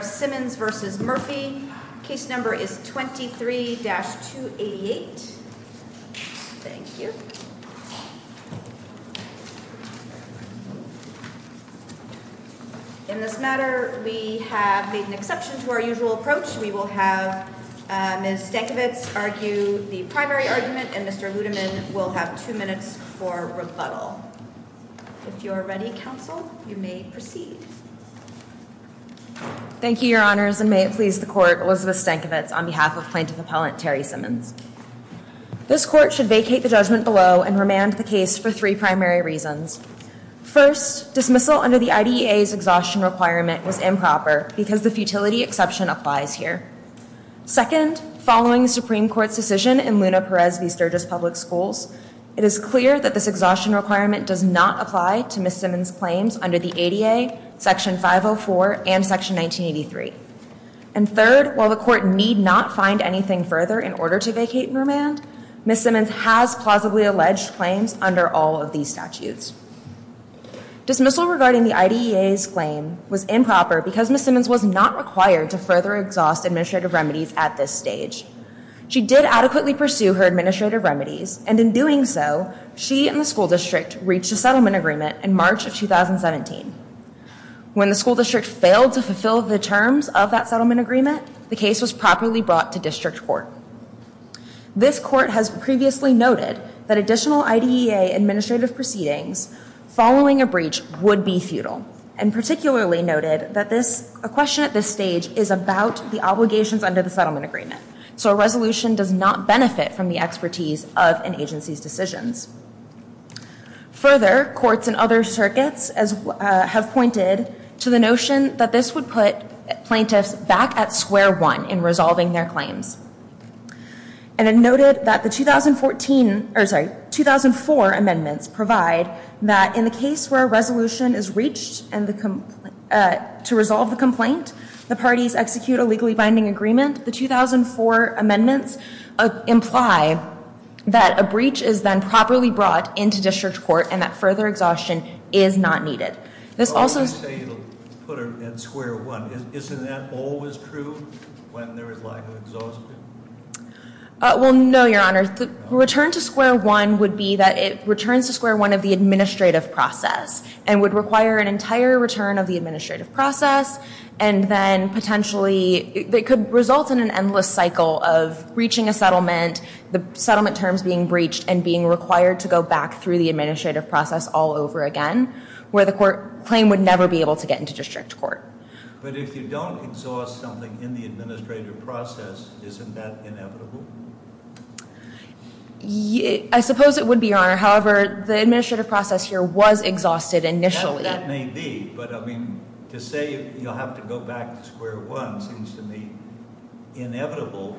Simmons v. Murphy. Case number is 23-288. In this matter, we have made an exception to our usual approach. We will have Ms. Stankiewicz argue the primary argument and Mr. Ludeman will have two minutes for rebuttal. If you are ready, counsel, you may proceed. Thank you, your honors, and may it please the court, Elizabeth Stankiewicz on behalf of plaintiff appellant Terry Simmons. This court should vacate the judgment below and remand the case for three primary reasons. First, dismissal under the IDEA's exhaustion requirement was improper because the futility exception applies here. Second, following the Supreme Court's decision in Luna Perez v. Sturgis Public Schools, it is clear that this exhaustion requirement does not apply to Ms. Simmons' claims under the ADA, Section 504, and Section 1983. And third, while the court need not find anything further in order to vacate and remand, Ms. Simmons has plausibly alleged claims under all of these statutes. Dismissal regarding the IDEA's claim was improper because Ms. Simmons was not required to further exhaust administrative remedies at this stage. She did adequately pursue her administrative remedies, and in doing so, she and the school district reached a settlement agreement in March of 2017. When the school district failed to fulfill the terms of that settlement agreement, the case was properly brought to district court. This court has previously noted that additional IDEA administrative proceedings following a breach would be futile, and particularly noted that a question at this stage is about the obligations under the settlement agreement, so a resolution does not benefit from the expertise of an agency's decisions. Further, courts and other circuits have pointed to the notion that this would put plaintiffs back at square one in resolving their claims. And it noted that the 2014, or sorry, 2004 amendments provide that in the case where a resolution is reached to resolve the complaint, the parties execute a legally binding agreement. The 2004 amendments imply that a breach is then properly brought into district court and that further exhaustion is not needed. This also- I say it'll put them at square one. Isn't that always true when there is lack of exhaustion? Well, no, Your Honor. The return to square one would be that it returns to square one of the administrative process and would require an entire return of the administrative process, and then potentially it could result in an endless cycle of reaching a settlement, the settlement terms being breached, and being required to go back through the administrative process all over again, where the claim would never be able to get into district court. But if you don't exhaust something in the administrative process, isn't that inevitable? I suppose it would be, Your Honor. However, the administrative process here was exhausted initially. That may be, but I mean, to say you'll have to go back to square one seems to me inevitable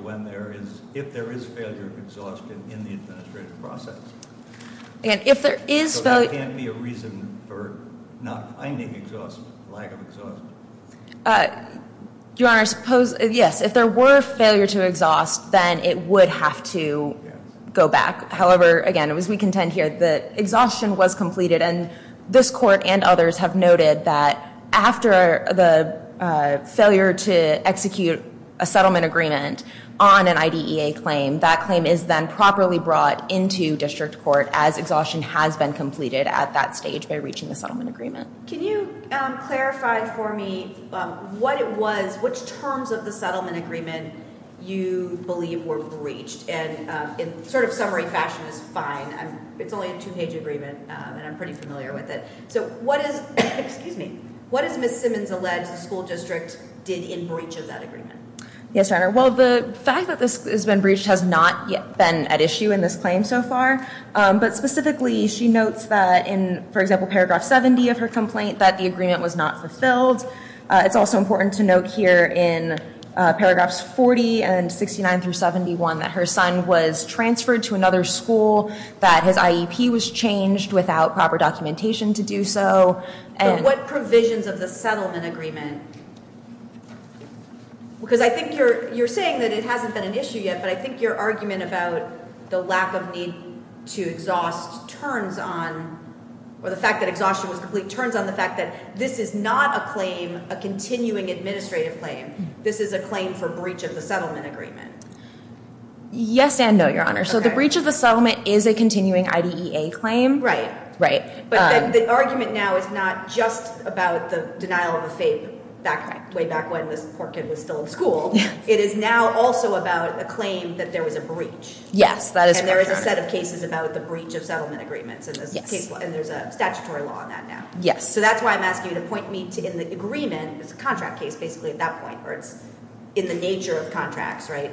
if there is failure of exhaustion in the administrative process. So there can't be a reason for not finding exhaustion, lack of exhaustion? Your Honor, yes. If there were failure to exhaust, then it would have to go back. However, again, as we contend here, the exhaustion was completed, and this court and others have noted that after the failure to execute a settlement agreement on an IDEA claim, that claim is then properly brought into district court, as exhaustion has been completed at that stage by reaching the settlement agreement. Can you clarify for me what it was, which terms of the settlement agreement you believe were breached? And in sort of summary fashion is fine. It's only a two-page agreement, and I'm pretty familiar with it. So what is, excuse me, what is Ms. Simmons alleged the school district did in breach of that agreement? Yes, Your Honor. Well, the fact that this has been breached has not yet been at issue in this claim so far, but specifically she notes that in, for example, paragraph 70 of her complaint that the agreement was not fulfilled. It's also important to note here in paragraphs 40 and 69 through 71 that her son was transferred to another school, that his IEP was changed without proper documentation to do so. But what provisions of the settlement agreement, because I think you're saying that it hasn't been an issue yet, but I think your argument about the lack of need to exhaust turns on, or the fact that exhaustion was complete turns on the fact that this is not a claim, a continuing administrative claim. This is a claim for breach of the settlement agreement. Yes and no, Your Honor. So the breach of the settlement is a continuing IDEA claim. Right. But the argument now is not just about the denial of the FAPE way back when this poor kid was still in school. It is now also about a claim that there was a breach. Yes, that is correct, Your Honor. And there is a set of cases about the breach of settlement agreements, and there's a statutory law on that now. Yes. So that's why I'm asking you to point me to in the agreement, it's a contract case basically at that point, or it's in the nature of contracts, right,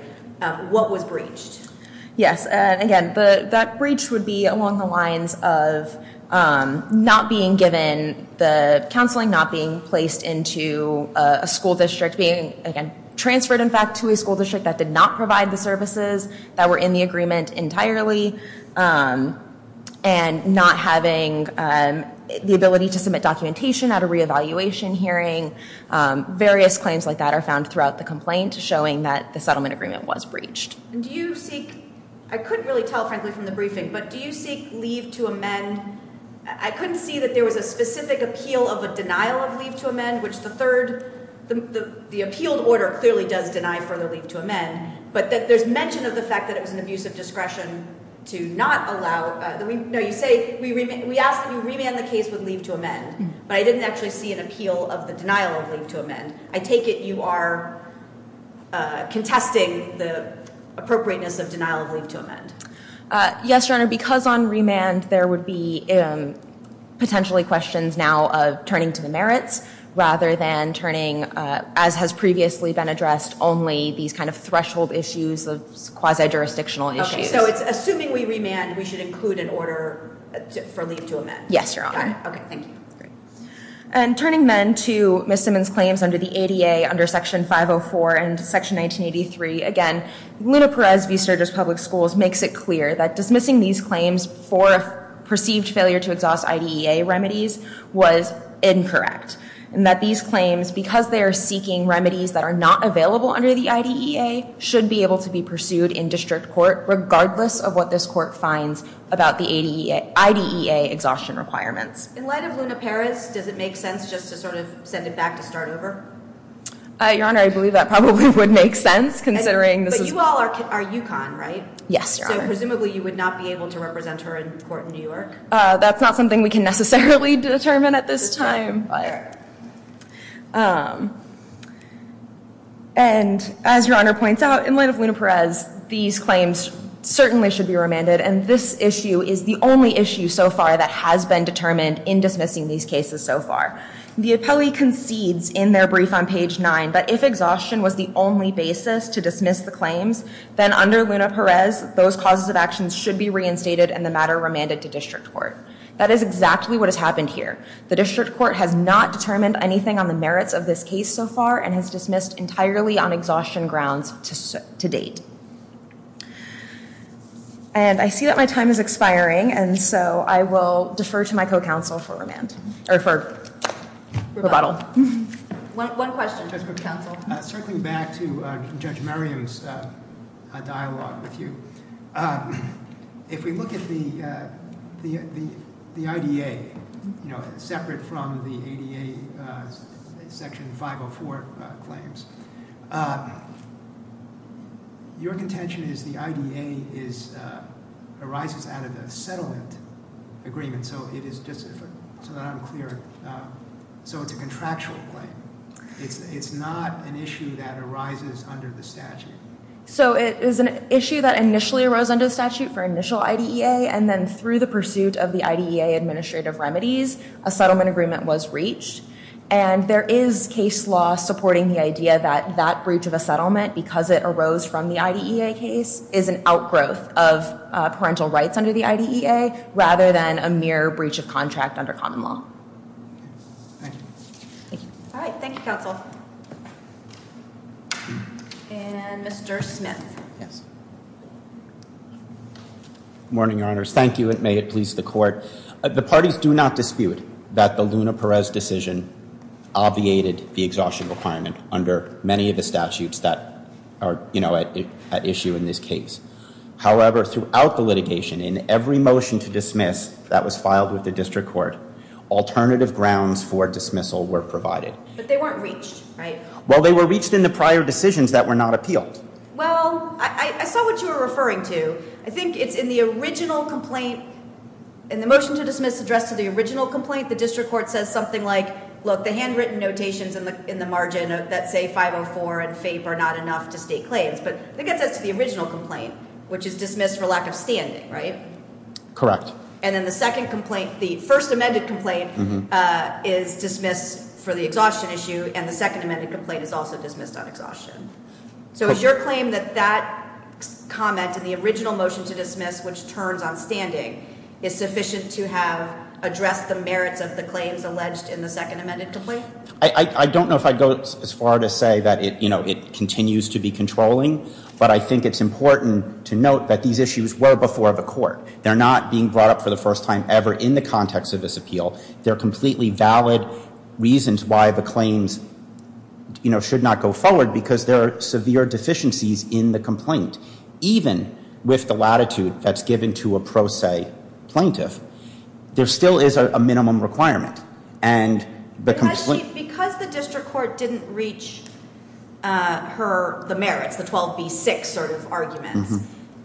what was breached? Yes. Again, that breach would be along the lines of not being given the counseling, not being placed into a school district, being, again, transferred, in fact, to a school district that did not provide the services that were in the agreement entirely, and not having the ability to submit documentation at a reevaluation hearing. Various claims like that are found throughout the complaint showing that the settlement agreement was breached. And do you seek, I couldn't really tell, frankly, from the briefing, but do you seek leave to amend? I couldn't see that there was a specific appeal of a denial of leave to amend, which the third, the appealed order clearly does deny further leave to amend, but there's mention of the fact that it was an abuse of discretion to not allow, no, you say, we asked that you remand the case with leave to amend, but I didn't actually see an appeal of the denial of leave to amend. I take it you are contesting the appropriateness of denial of leave to amend. Yes, Your Honor, because on remand there would be potentially questions now of turning to the merits rather than turning, as has previously been addressed, only these kind of threshold issues, the quasi-jurisdictional issues. Okay, so it's assuming we remand, we should include an order for leave to amend. Yes, Your Honor. Okay, thank you. And turning then to Ms. Simmons' claims under the ADA under Section 504 and Section 1983, again, Luna Perez v. Sturgis Public Schools makes it clear that dismissing these claims for a perceived failure to exhaust IDEA remedies was incorrect, and that these claims, because they are seeking remedies that are not available under the IDEA, should be able to be pursued in district court regardless of what this court finds about the IDEA exhaustion requirements. In light of Luna Perez, does it make sense just to sort of send it back to start over? Your Honor, I believe that probably would make sense, considering this is... But you all are UConn, right? Yes, Your Honor. So presumably you would not be able to represent her in court in New York? That's not something we can necessarily determine at this time. Fair. And as Your Honor points out, in light of Luna Perez, these claims certainly should be remanded, and this issue is the only issue so far that has been determined in dismissing these cases so far. The appellee concedes in their brief on page 9 that if exhaustion was the only basis to dismiss the claims, then under Luna Perez, those causes of actions should be reinstated and the matter remanded to district court. That is exactly what has happened here. The district court has not determined anything on the merits of this case so far and has dismissed entirely on exhaustion grounds to date. And I see that my time is expiring, and so I will defer to my co-counsel for remand, or for rebuttal. One question, Judge Cook-Counsel. Circling back to Judge Merriam's dialogue with you, if we look at the IDA, separate from the ADA Section 504 claims, your contention is the IDA arises out of the settlement agreement. So it is just, so that I'm clear, so it's a contractual claim. It's not an issue that arises under the statute. So it is an issue that initially arose under the statute for initial IDEA, and then through the pursuit of the IDEA administrative remedies, a settlement agreement was reached. And there is case law supporting the idea that that breach of a settlement, because it arose from the IDEA case, is an outgrowth of parental rights under the IDEA, rather than a mere breach of contract under common law. All right, thank you, counsel. And Mr. Smith. Morning, Your Honors. Thank you, and may it please the Court. The parties do not dispute that the Luna-Perez decision obviated the exhaustion requirement under many of the statutes that are at issue in this case. However, throughout the litigation, in every motion to dismiss that was filed with the district court, alternative grounds for dismissal were provided. But they weren't reached, right? Well, they were reached in the prior decisions that were not appealed. Well, I saw what you were referring to. I think it's in the original complaint. In the motion to dismiss addressed to the original complaint, the district court says something like, look, the handwritten notations in the margin that say 504 and FAPE are not enough to state claims. But I think that says to the original complaint, which is dismissed for lack of standing, right? Correct. And then the second complaint, the first amended complaint, is dismissed for the exhaustion issue, and the second amended complaint is also dismissed on exhaustion. So is your claim that that comment in the original motion to dismiss, which turns on standing, is sufficient to have addressed the merits of the claims alleged in the second amended complaint? I don't know if I'd go as far to say that it continues to be controlling, but I think it's important to note that these issues were before the court. They're not being brought up for the first time ever in the context of this appeal. They're completely valid reasons why the claims should not go forward, because there are severe deficiencies in the complaint. Even with the latitude that's given to a pro se plaintiff, there still is a minimum requirement. Because the district court didn't reach the merits, the 12B6 sort of arguments,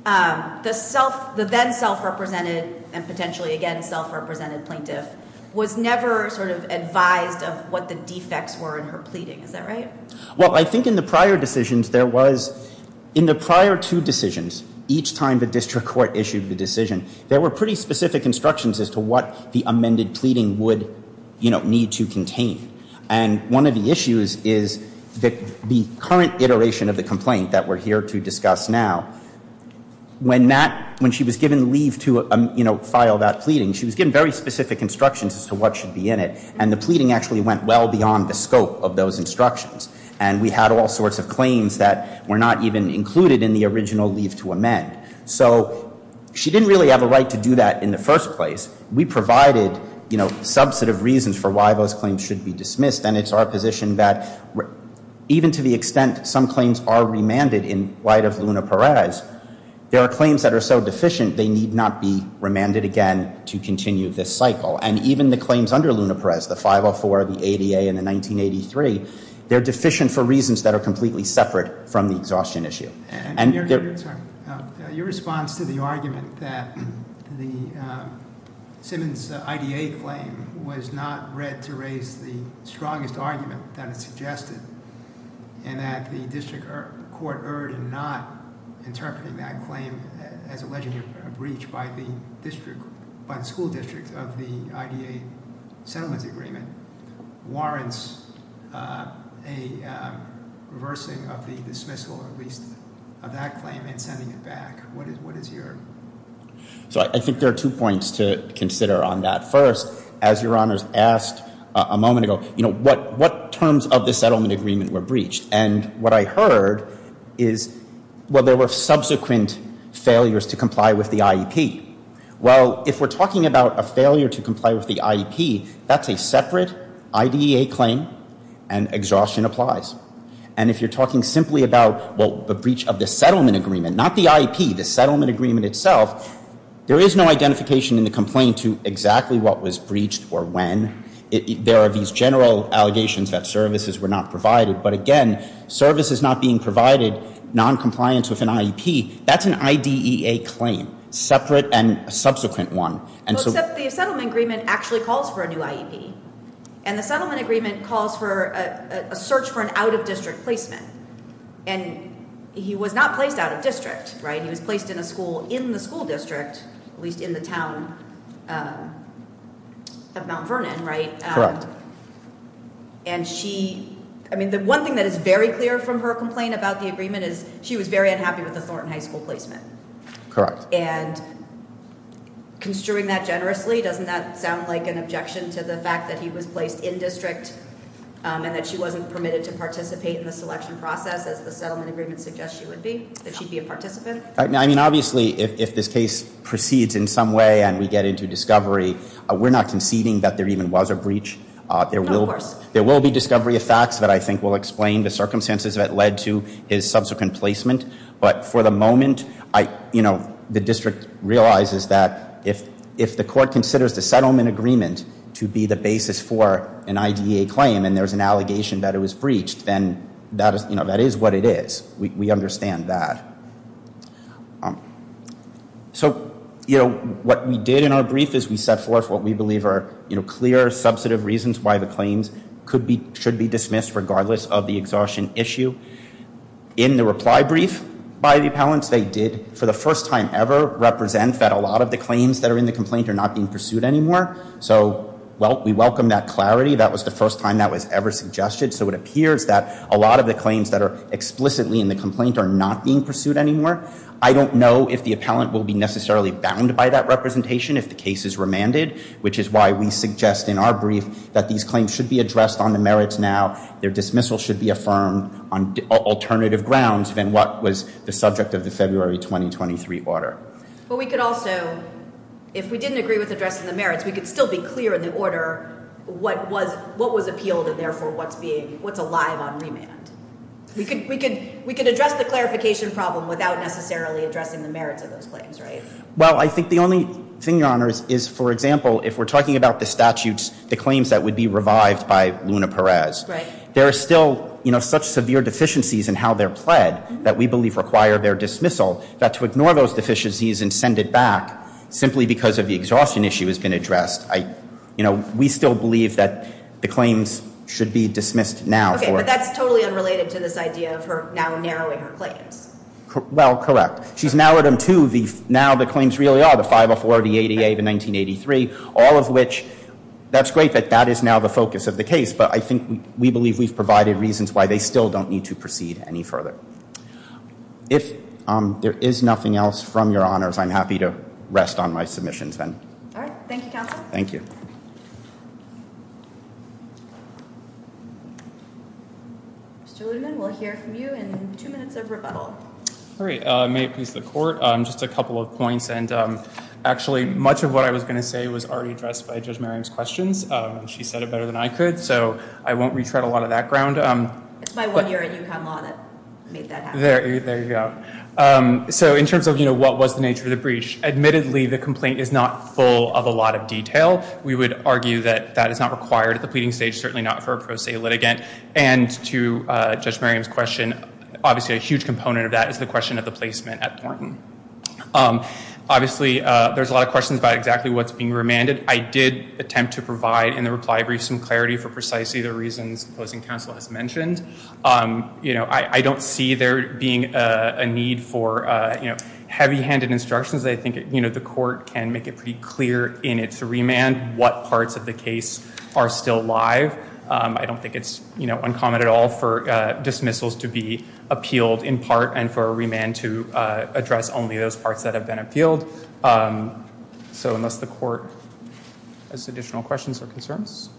the then self-represented and potentially again self-represented plaintiff was never sort of advised of what the defects were in her pleading. Is that right? Well, I think in the prior decisions there was, in the prior two decisions, each time the district court issued the decision, there were pretty specific instructions as to what the amended pleading would need to contain. And one of the issues is that the current iteration of the complaint that we're here to discuss now, when she was given leave to file that pleading, she was given very specific instructions as to what should be in it, and the pleading actually went well beyond the scope of those instructions. And we had all sorts of claims that were not even included in the original leave to amend. So she didn't really have a right to do that in the first place. We provided, you know, a subset of reasons for why those claims should be dismissed, and it's our position that even to the extent some claims are remanded in light of Luna-Perez, there are claims that are so deficient they need not be remanded again to continue this cycle. And even the claims under Luna-Perez, the 504, the ADA, and the 1983, they're deficient for reasons that are completely separate from the exhaustion issue. Your response to the argument that the Simmons IDA claim was not read to raise the strongest argument that it suggested and that the district court erred in not interpreting that claim as alleging a breach by the school district of the IDA settlement agreement warrants a reversing of the dismissal, at least, of that claim and sending it back? What is your... So I think there are two points to consider on that. First, as Your Honors asked a moment ago, you know, what terms of the settlement agreement were breached? And what I heard is, well, there were subsequent failures to comply with the IEP. Well, if we're talking about a failure to comply with the IEP, that's a separate IDEA claim and exhaustion applies. And if you're talking simply about, well, the breach of the settlement agreement, not the IEP, the settlement agreement itself, there is no identification in the complaint to exactly what was breached or when. There are these general allegations that services were not provided. But again, services not being provided, noncompliance with an IEP, that's an IDEA claim, separate and a subsequent one. The settlement agreement actually calls for a new IEP. And the settlement agreement calls for a search for an out-of-district placement. And he was not placed out-of-district, right? He was placed in a school in the school district, at least in the town of Mount Vernon, right? Correct. And she, I mean, the one thing that is very clear from her complaint about the agreement is she was very unhappy with the Thornton High School placement. Correct. And construing that generously, doesn't that sound like an objection to the fact that he was placed in-district and that she wasn't permitted to participate in the selection process, as the settlement agreement suggests she would be, that she'd be a participant? I mean, obviously, if this case proceeds in some way and we get into discovery, we're not conceding that there even was a breach. No, of course. There will be discovery of facts that I think will explain the circumstances that led to his subsequent placement. But for the moment, you know, the district realizes that if the court considers the settlement agreement to be the basis for an IDEA claim and there's an allegation that it was breached, then that is what it is. We understand that. So, you know, what we did in our brief is we set forth what we believe are clear, substantive reasons why the claims should be dismissed, regardless of the exhaustion issue. In the reply brief by the appellants, they did, for the first time ever, represent that a lot of the claims that are in the complaint are not being pursued anymore. So we welcome that clarity. That was the first time that was ever suggested. So it appears that a lot of the claims that are explicitly in the complaint are not being pursued anymore. I don't know if the appellant will be necessarily bound by that representation if the case is remanded, which is why we suggest in our brief that these claims should be addressed on the merits now. Their dismissal should be affirmed on alternative grounds than what was the subject of the February 2023 order. But we could also, if we didn't agree with addressing the merits, we could still be clear in the order what was appealed and, therefore, what's alive on remand. We could address the clarification problem without necessarily addressing the merits of those claims, right? Well, I think the only thing, Your Honors, is, for example, if we're talking about the statutes, the claims that would be revived by Luna Perez, there are still, you know, such severe deficiencies in how they're pled that we believe require their dismissal, that to ignore those deficiencies and send it back simply because of the exhaustion issue has been addressed, you know, we still believe that the claims should be dismissed now. Okay, but that's totally unrelated to this idea of her now narrowing her claims. Well, correct. She's narrowed them to now the claims really are, the 504, the ADA, the 1983, all of which, that's great that that is now the focus of the case, but I think we believe we've provided reasons why they still don't need to proceed any further. If there is nothing else from Your Honors, I'm happy to rest on my submissions then. All right. Thank you, Counsel. Thank you. Mr. Ludeman, we'll hear from you in two minutes of rebuttal. All right. May it please the Court. Just a couple of points, and actually much of what I was going to say was already addressed by Judge Merriam's questions. She said it better than I could, so I won't retread a lot of that ground. It's my one year at UConn Law that made that happen. There you go. So in terms of, you know, what was the nature of the breach, admittedly the complaint is not full of a lot of detail. We would argue that that is not required at the pleading stage, certainly not for a pro se litigant, and to Judge Merriam's question, obviously a huge component of that is the question of the placement at Thornton. Obviously, there's a lot of questions about exactly what's being remanded. I did attempt to provide in the reply brief some clarity for precisely the reasons the Closing Counsel has mentioned. You know, I don't see there being a need for, you know, heavy-handed instructions. I think, you know, the Court can make it pretty clear in its remand what parts of the case are still live. I don't think it's, you know, uncommon at all for dismissals to be appealed in part and for a remand to address only those parts that have been appealed. So unless the Court has additional questions or concerns.